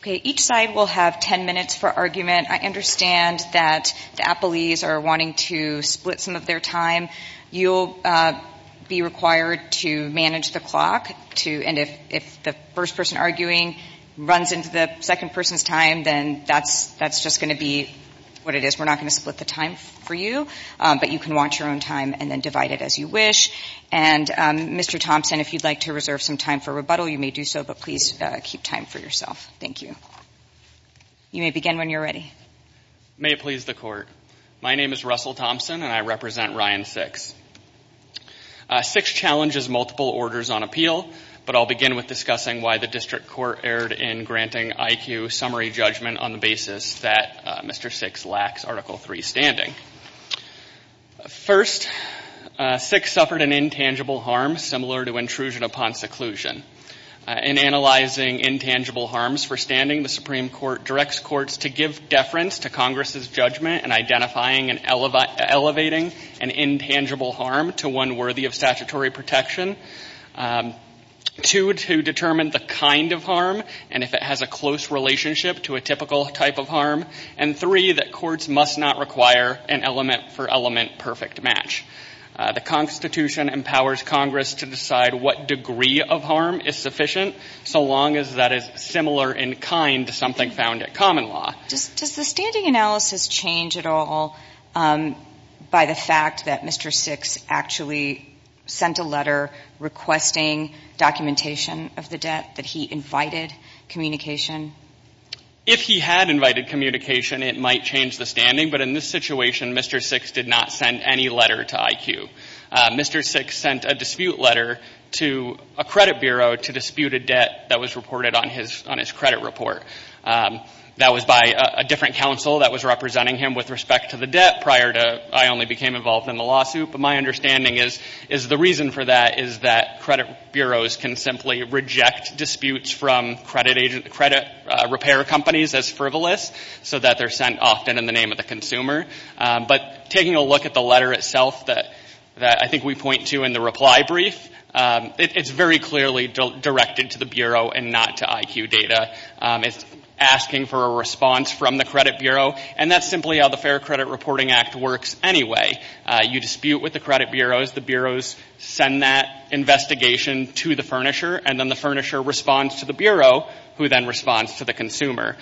Okay, each side will have 10 minutes for argument. I understand that the appellees are wanting to split some of their time. You'll be required to manage the clock, and if the first person arguing runs into the second person's time, then that's just going to be what it is. We're not going to split the time for you, but you can watch your own time and then divide it as you wish. And Mr. Thompson, if you'd like to reserve some time for rebuttal, you may do so, but please keep time for yourself. Thank you. You may begin when you're ready. May it please the Court. My name is Russell Thompson, and I represent Ryan Six. Six challenges multiple orders on appeal, but I'll begin with discussing why the District Court erred in granting IQ summary judgment on the basis that Six suffered an intangible harm similar to intrusion upon seclusion. In analyzing intangible harms for standing, the Supreme Court directs courts to give deference to Congress' judgment in identifying and elevating an intangible harm to one worthy of statutory protection, two, to determine the kind of harm and if it has a close relationship to a typical type of harm, and three, that courts must not require an element-for-element perfect match. The Constitution empowers Congress to decide what degree of harm is sufficient, so long as that is similar in kind to something found at common law. Does the standing analysis change at all by the fact that Mr. Six actually sent a letter requesting documentation of the debt, that he invited communication? If he had invited communication, it might change the standing, but in this situation, Mr. Six did not send any letter to IQ. Mr. Six sent a dispute letter to a credit bureau to dispute a debt that was reported on his credit report. That was by a different counsel that was representing him with respect to the debt prior to I only became involved in the lawsuit, but my understanding is the reason for that is that credit bureaus can simply reject disputes from credit repair companies as frivolous so that they're sent often in the name of the consumer, but taking a look at the letter itself that I think we point to in the reply brief, it's very clearly directed to the bureau and not to IQ data. It's asking for a response from the credit bureau, and that's simply how the Fair Credit Reporting Act works anyway. You dispute with the credit bureaus, the bureaus send that investigation to the bureau, who then responds to the consumer.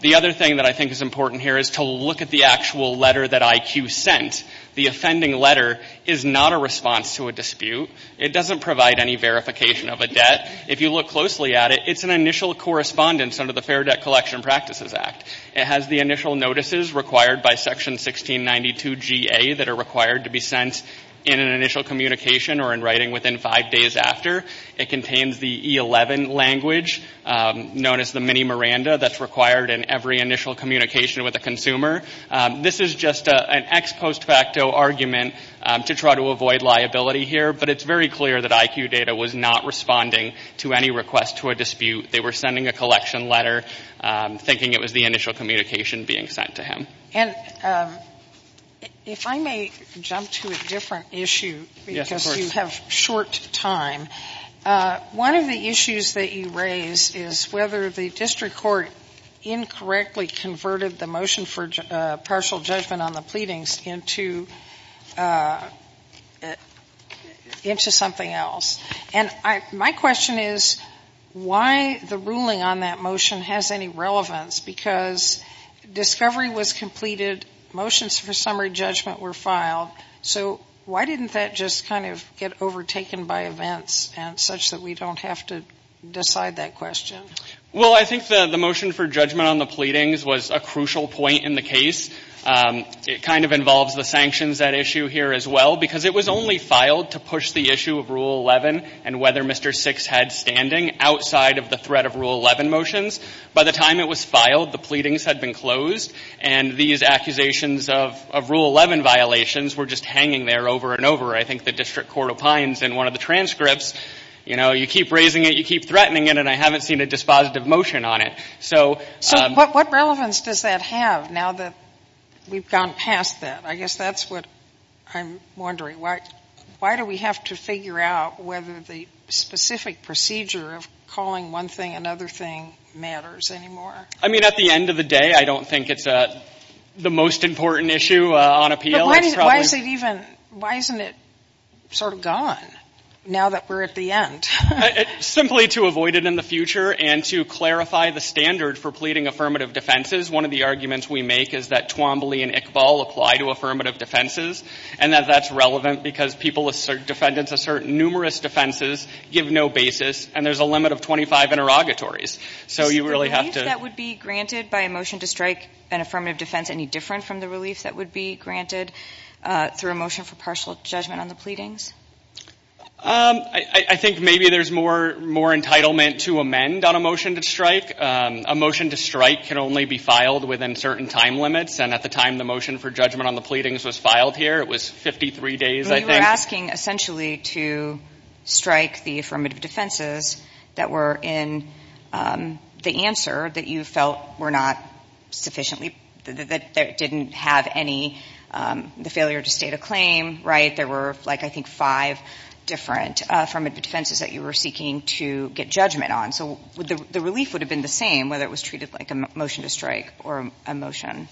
The other thing that I think is important here is to look at the actual letter that IQ sent. The offending letter is not a response to a dispute. It doesn't provide any verification of a debt. If you look closely at it, it's an initial correspondence under the Fair Debt Collection Practices Act. It has the initial notices required by Section 1692 GA that are required to be sent in an initial communication or in writing within five days after. It contains the E11 language known as the mini Miranda that's required in every initial communication with a consumer. This is just an ex post facto argument to try to avoid liability here, but it's very clear that IQ data was not responding to any request to a dispute. They were sending a collection letter thinking it was the initial communication being sent to him. And if I may jump to a different issue, because you have short time. One of the issues that you raise is whether the district court incorrectly converted the motion for partial judgment on the pleadings into something else. And my question is why the ruling on that motion has any relevance, because discovery was completed, motions for summary judgment were filed. So why didn't that just kind of get overtaken by events and such that we don't have to decide that question? Well, I think the motion for judgment on the pleadings was a crucial point in the case. It kind of involves the sanctions at issue here as well, because it was only filed to push the issue of Rule 11 and whether Mr. Six had standing outside of the threat of Rule 11 motions. By the time it was filed, the pleadings had been closed, and these accusations of Rule 11 violations were just hanging there over and over. I think the district court opines in one of the transcripts, you know, you keep raising it, you keep threatening it, and I haven't seen a dispositive motion on it. So what relevance does that have now that we've gone past that? I guess that's what I'm wondering. Why do we have to figure out whether the specific procedure of calling one thing another thing matters anymore? I mean, at the end of the day, I don't think it's the most important issue on appeal. Why isn't it sort of gone now that we're at the end? Simply to avoid it in the future and to clarify the standard for pleading affirmative defenses. One of the arguments we make is that Twombly and Iqbal apply to affirmative defenses and that that's relevant because people, defendants assert numerous defenses, give no basis, and there's a limit of 25 interrogatories. So you really have to Is the relief that would be granted by a motion to strike an affirmative defense any different from the relief that would be granted through a motion for partial judgment on the pleadings? I think maybe there's more entitlement to amend on a motion to strike. A motion to strike can only be filed within certain time limits, and at the time the motion for judgment on the pleadings was filed here, it was 53 days, I think. You were asking essentially to strike the affirmative defenses that were in the answer that you felt were not sufficiently, that didn't have any, the failure to state a claim, right? There were, I think, five different affirmative defenses that you were seeking to get judgment on. So the relief would have been the same whether it was treated like a motion to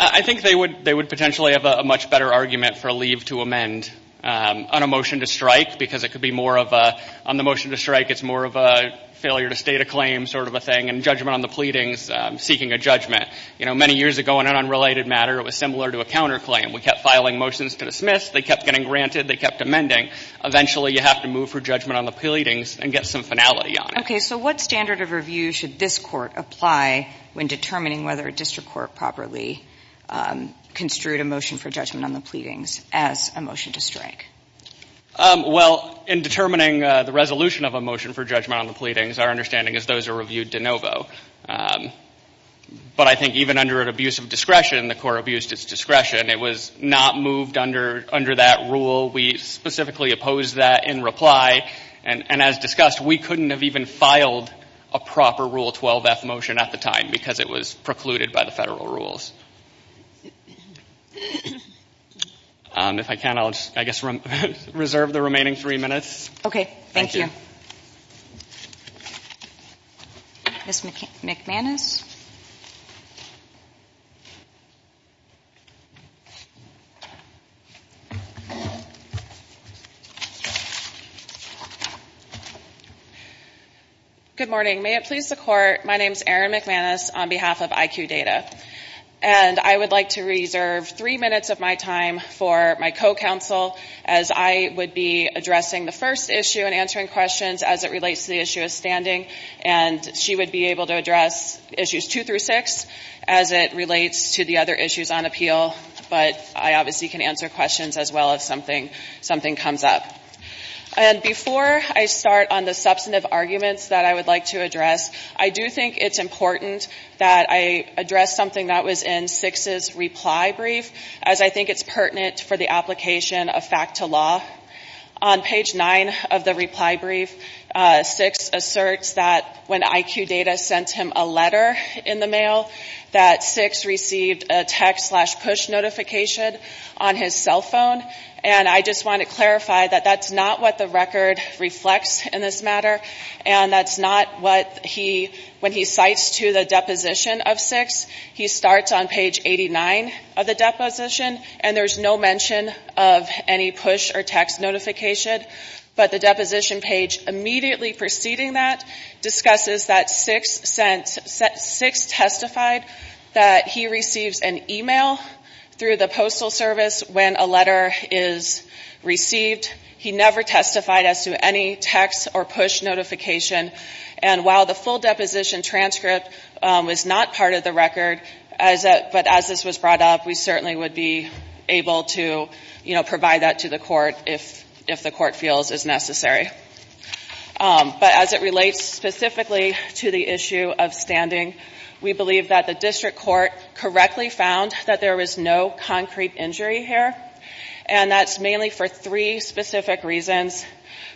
I think they would potentially have a much better argument for a leave to amend on a motion to strike because it could be more of a, on the motion to strike it's more of a failure to state a claim sort of a thing, and judgment on the pleadings, seeking a judgment. You know, many years ago in an unrelated matter it was similar to a counterclaim. We kept filing motions to dismiss, they kept getting granted, they kept amending. Eventually you have to move for judgment on the pleadings and get some finality on it. Okay, so what standard of review should this court apply when determining whether a district court properly construed a motion for judgment on the pleadings as a motion to strike? Well, in determining the resolution of a motion for judgment on the pleadings our understanding is those are reviewed de novo. But I think even under an abuse of discretion, the court abused its discretion. It was not moved under that rule. We specifically opposed that in reply. And as discussed, we couldn't have even filed a proper Rule 12-F motion at the time because it was precluded by the federal rules. If I can, I'll just, I guess, reserve the remaining three minutes. Okay, thank you. Ms. McManus. Good morning. May it please the court, my name is Erin McManus on behalf of IQ Data. And I would like to reserve three minutes of my time for my co-counsel as I would be addressing the first issue and answering questions as it relates to the other issues on appeal. But I obviously can answer questions as well if something comes up. And before I start on the substantive arguments that I would like to address, I do think it's important that I address something that was in Six's reply brief as I think it's pertinent for the application of fact to law. On page nine of the reply brief, Six asserts that when IQ Data sent him a letter in the mail, that Six received a text slash push notification on his cell phone. And I just want to clarify that that's not what the record reflects in this matter. And that's not what he, when he cites to the deposition of Six, he starts on page 89 of the deposition, and there's no mention of any push or text notification. But the deposition page immediately preceding that discusses that Six testified that he receives an email through the postal service when a letter is received. He never testified as to any text or push notification. And while the full deposition transcript was not part of the record, but as this was brought up, we certainly would be able to provide that to the court if the court feels is necessary. But as it relates specifically to the issue of standing, we believe that the district court correctly found that there was no concrete injury here. And that's mainly for three specific reasons.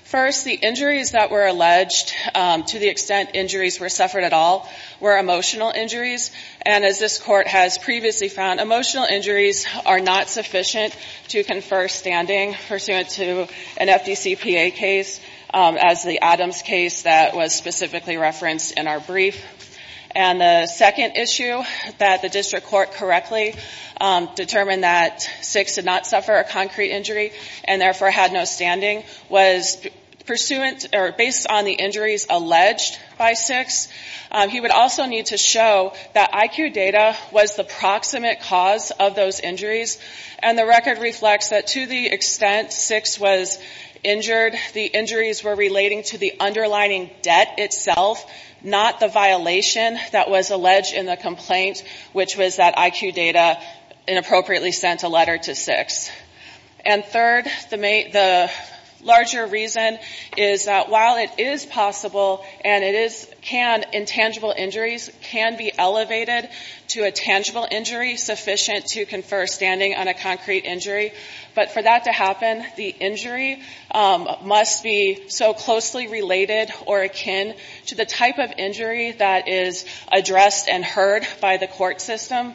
First, the injuries that were alleged, to the extent injuries were suffered at all, were emotional injuries. And as this court has previously found, emotional injuries are not sufficient to confer standing pursuant to an FDCPA case as the Adams case that was specifically referenced in our brief. And the second issue that the district court correctly determined that Six did not suffer a concrete injury and therefore had no standing was pursuant or based on the injuries alleged by Six. He would also need to show that IQ data was the proximate cause of those injuries. And the record reflects that to the extent Six was injured, the injuries were relating to the underlining debt itself, not the violation that was alleged in the complaint, which was that IQ data inappropriately sent a letter to Six. And third, the larger reason is that while it is possible and it is can, intangible injuries can be elevated to a tangible injury sufficient to confer standing on a concrete injury. But for that to happen, the injury must be so closely related or akin to the type of injury that is addressed and heard by the court system.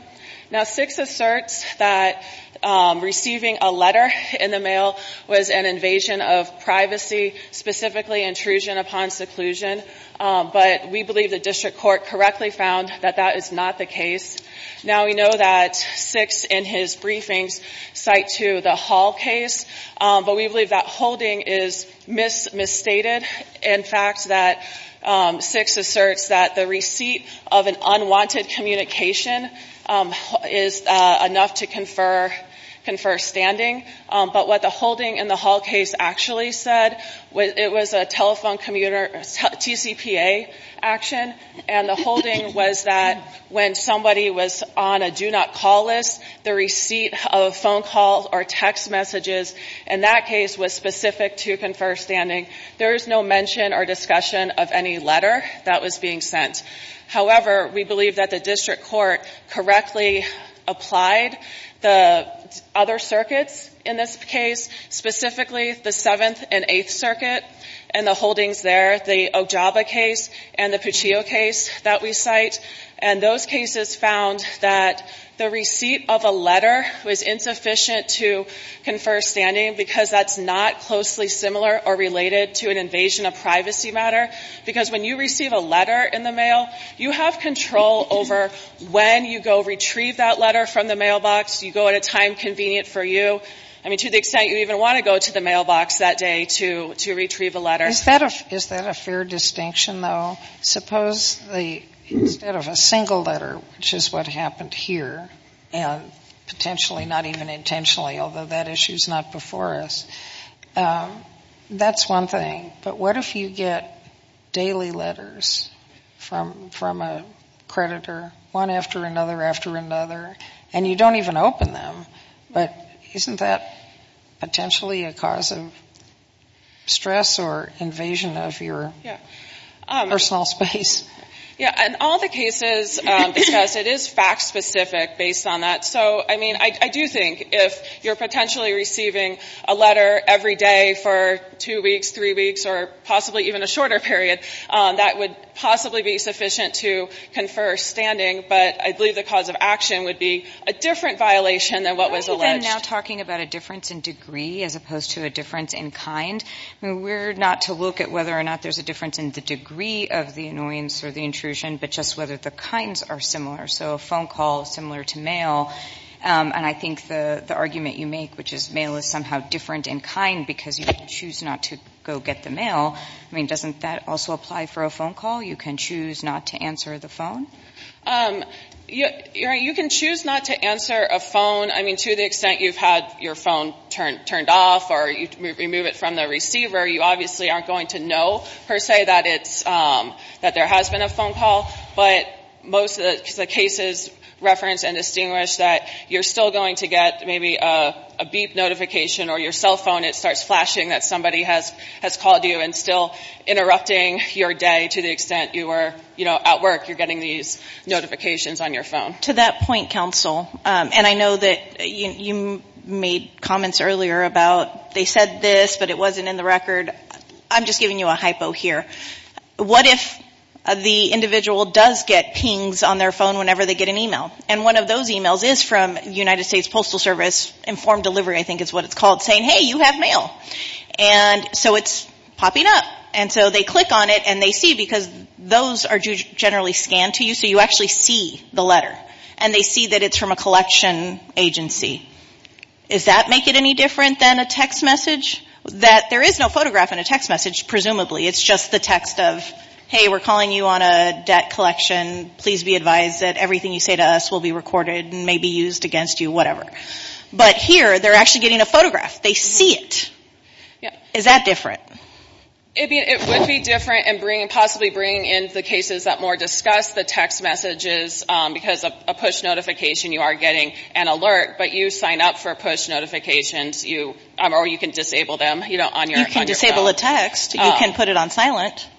Now Six asserts that receiving a letter in the mail was an invasion of privacy, specifically intrusion upon seclusion, but we believe the district court correctly found that that is not the case. Now we know that Six in his briefings cite to the Hall case, but we believe that holding is misstated. In fact, that Six asserts that the receipt of an unwanted communication is enough to confer standing. But what the holding in the Hall case actually said, it was a telephone commuter, TCPA action, and the holding was that when somebody was on a do not call list, the receipt of phone calls or text messages in that case was specific to confer standing. There is no mention or discussion of any letter that was being sent. However, we believe that the district court correctly applied the other circuits in this case, specifically the Seventh and Eighth Circuit and the holdings there, the Ojaba case and the Puccio case that we cite, and those cases found that the receipt of a letter was insufficient to confer standing because that's not closely similar or related to an invasion of privacy matter. Because when you receive a letter in the mailbox, do you retrieve that letter from the mailbox? Do you go at a time convenient for you? I mean, to the extent you even want to go to the mailbox that day to retrieve a letter. »» Is that a fair distinction, though? Suppose instead of a single letter, which is what happened here, and potentially not even intentionally, although that issue is not before us, that's one thing. But what if you get daily letters from a creditor, one after another after another, and you receive a letter from another, and you don't even open them? But isn't that potentially a cause of stress or invasion of your personal space? »» Yeah. In all the cases discussed, it is fact specific based on that. So I mean, I do think if you're potentially receiving a letter every day for two weeks, three weeks, or possibly even a shorter period, that would possibly be sufficient to confer standing. But I believe the cause of action would be a different violation than what was alleged. »» We're not to look at whether or not there's a difference in the degree of the annoyance or the intrusion, but just whether the kinds are similar. So a phone call similar to mail, and I think the argument you make, which is mail is somehow different in kind because you choose not to go get the mail, I mean, doesn't that also apply for a phone call? You can choose not to answer the phone? »» You can choose not to answer a phone. I mean, to the extent you've had your phone turned off or you remove it from the receiver, you obviously aren't going to know per se that there has been a phone call. But most of the cases reference and distinguish that you're still going to get maybe a beep notification or your cell phone, it starts calling you and still interrupting your day to the extent you were, you know, at work, you're getting these notifications on your phone. »» To that point, counsel, and I know that you made comments earlier about they said this, but it wasn't in the record. I'm just giving you a hypo here. What if the individual does get pings on their phone whenever they get an email? And one of those emails is from the United States Postal Service, informed delivery I think is what it's called, saying, hey, you have mail. And so it's popping up. And so they click on it and they see, because those are generally scanned to you, so you actually see the letter. And they see that it's from a collection agency. Does that make it any different than a text message? That there is no photograph in a text message, presumably. It's just the text of, hey, we're calling you on a debt collection. Please be advised that everything you say to us will be recorded and may be used against you, whatever. But here, they're actually getting a photograph. They see it. Is that different? »» It would be different and possibly bring in the cases that more discuss the text messages, because a push notification, you are getting an alert, but you sign up for push notifications, or you can disable them on your phone. »» You can disable a text. You can put it on silent. »»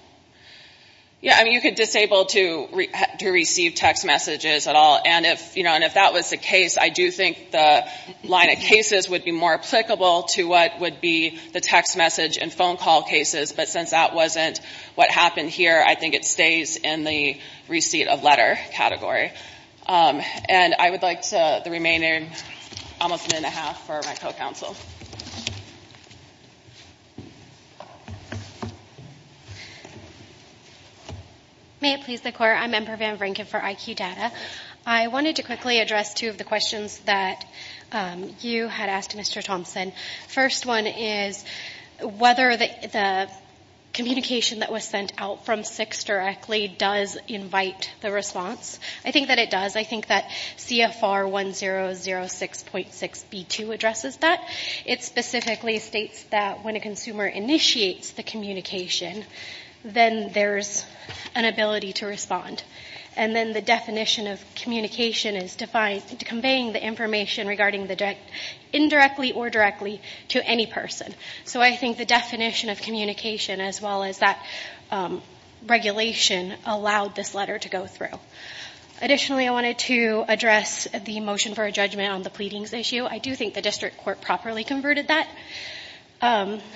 You can disable to receive text messages at all. And if that was the case, I do think the line of cases would be more applicable to what would be the text message and phone call cases. But since that wasn't what happened here, I think it stays in the receipt of letter category. And I would like the remaining almost a minute and a half for my co-counsel. »» May it please the Court. I'm Amber Van Vranken for IQ Data. I wanted to quickly address two of the questions that you had asked Mr. Thompson. First one is whether the communication that was sent out from SIX directly does invite the response. I think that it does. I think that CFR 1006.6B2 addresses that. It specifically states that when a consumer initiates the communication, then there's an ability to respond. And then the definition of communication is conveying the information indirectly or directly to any person. So I think the definition of communication as well as that regulation allowed this letter to go through. Additionally, I wanted to address the motion for a judgment on the pleadings issue. I do think the district court properly converted that.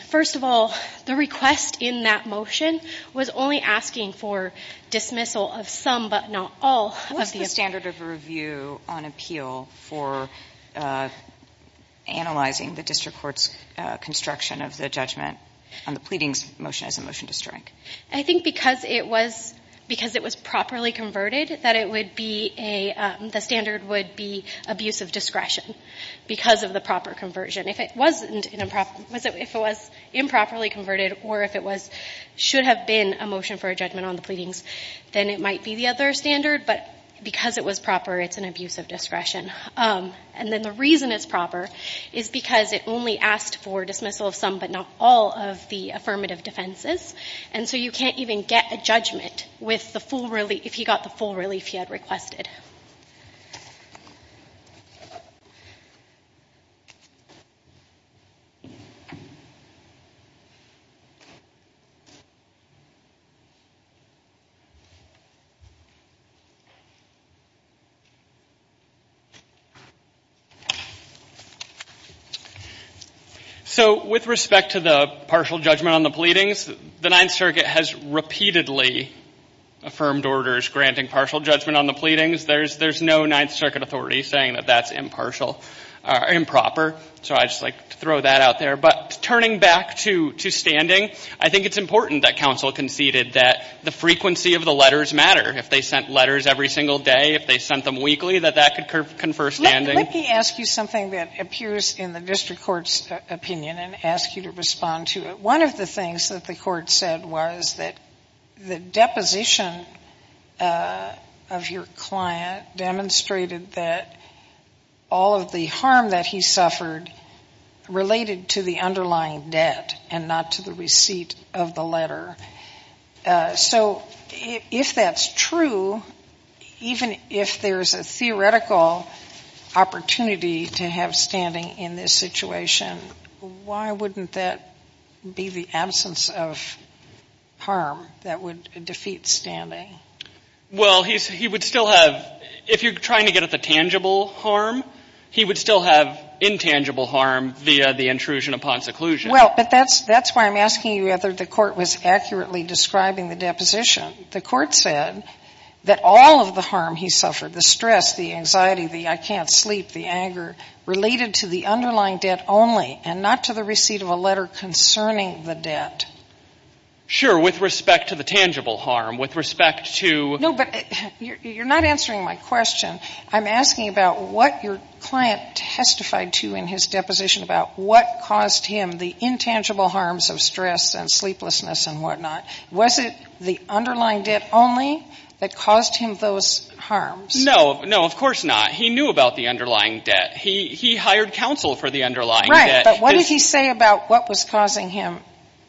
First of all, the request in that motion was only asking for dismissal of some but not all. »» What's the standard of review on appeal for analyzing the district court's construction of the judgment on the pleadings motion as a motion to strike? »» I think because it was properly converted, that it would be a the standard would be abuse of discretion because of the proper conversion. If it was improperly converted or if it should have been a motion for a judgment on the pleadings, then it might be the other standard. But because it was proper, it's an abuse of discretion. And then the reason it's proper is because it only asked for dismissal of some but not all of the affirmative defenses. And so you can't even get a judgment if he got the full relief he had requested. »» Thank you. »» I think it's important that counsel conceded that the frequency of the letters matter. If they sent letters every single day, if they sent them weekly, that that could confer standing. »» Let me ask you something that appears in the district court's opinion and ask you to respond to it. One of the things that the court said was that the deposition of your client demonstrated that all of the harm that he suffered related to the underlying debt and not to the receipt of the letter. So if that's true, even if there's a theoretical opportunity to have standing in this situation, why wouldn't that be the absence of harm that would defeat standing? »» Well, he would still have, if you're trying to get at the tangible harm, he would still have intangible harm via the intrusion upon seclusion. »» That's why I'm asking you whether the court was accurately describing the deposition. The court said that all of the harm he suffered, the stress, the anxiety, the I can't sleep, the anger, related to the underlying debt only and not to the receipt of a letter concerning the debt. »» Sure, with respect to the tangible harm, with respect to. »» No, but you're not answering my question. I'm asking about what your client testified to in his deposition about what caused him the intangible harms of stress and sleeplessness and whatnot. Was it the underlying debt only that caused him those harms? »» No, of course not. He knew about the underlying debt. He hired counsel for the underlying debt. »» Right, but what did he say about what was causing him harm? »»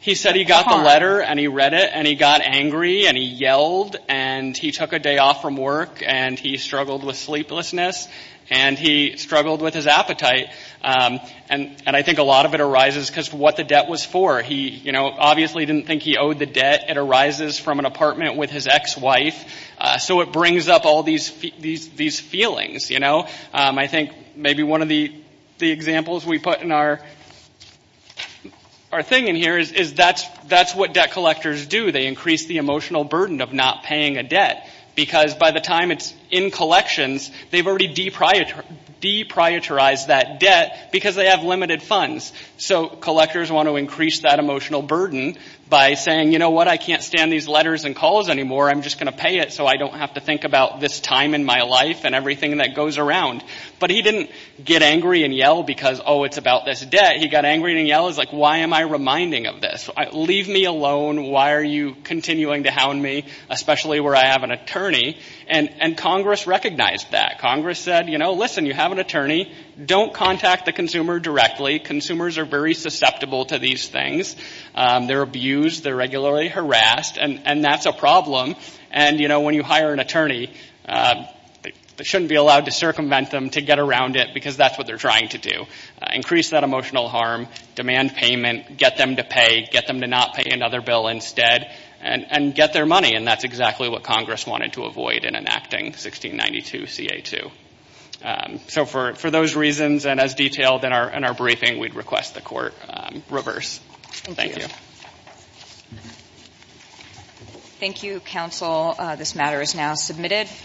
He said he got the letter and he read it and he got angry and he yelled and he took a day off from work and he struggled with sleeplessness and he struggled with his appetite. And I think a lot of it arises because of what the debt was for. He obviously didn't think he owed the debt. It arises from an apartment with his ex-wife. So it brings up all these feelings. I think maybe one of the examples we put in our thing in here is that's what debt collectors do. They increase the emotional burden of not paying a debt because by the time it's in collections, they've already deprioritized that debt because they have limited funds. So collectors want to increase that emotional burden by saying, you know what? I can't stand these letters and calls anymore. I'm just going to pay it so I don't have to think about this time in my life and everything that goes around. But he didn't get angry and yell because, oh, it's about this debt. He got angry and yelled, why am I reminding of this? Leave me alone. Why are you continuing to hound me, especially where I have an attorney? And Congress recognized that. Congress said, you know, listen, you have an attorney. Don't contact the consumer directly. Consumers are very susceptible to these things. They're abused. They're regularly harassed. And that's a problem. And when you hire an attorney, they shouldn't be allowed to circumvent them to get around it because that's what they're trying to do, increase that emotional harm, demand payment, get them to pay, get them to not pay another bill instead, and get their money. And that's exactly what Congress wanted to avoid in enacting 1692 C.A. 2. So for those reasons and as detailed in our briefing, we'd request the court reverse. Thank you. Thank you, counsel. This matter is now submitted.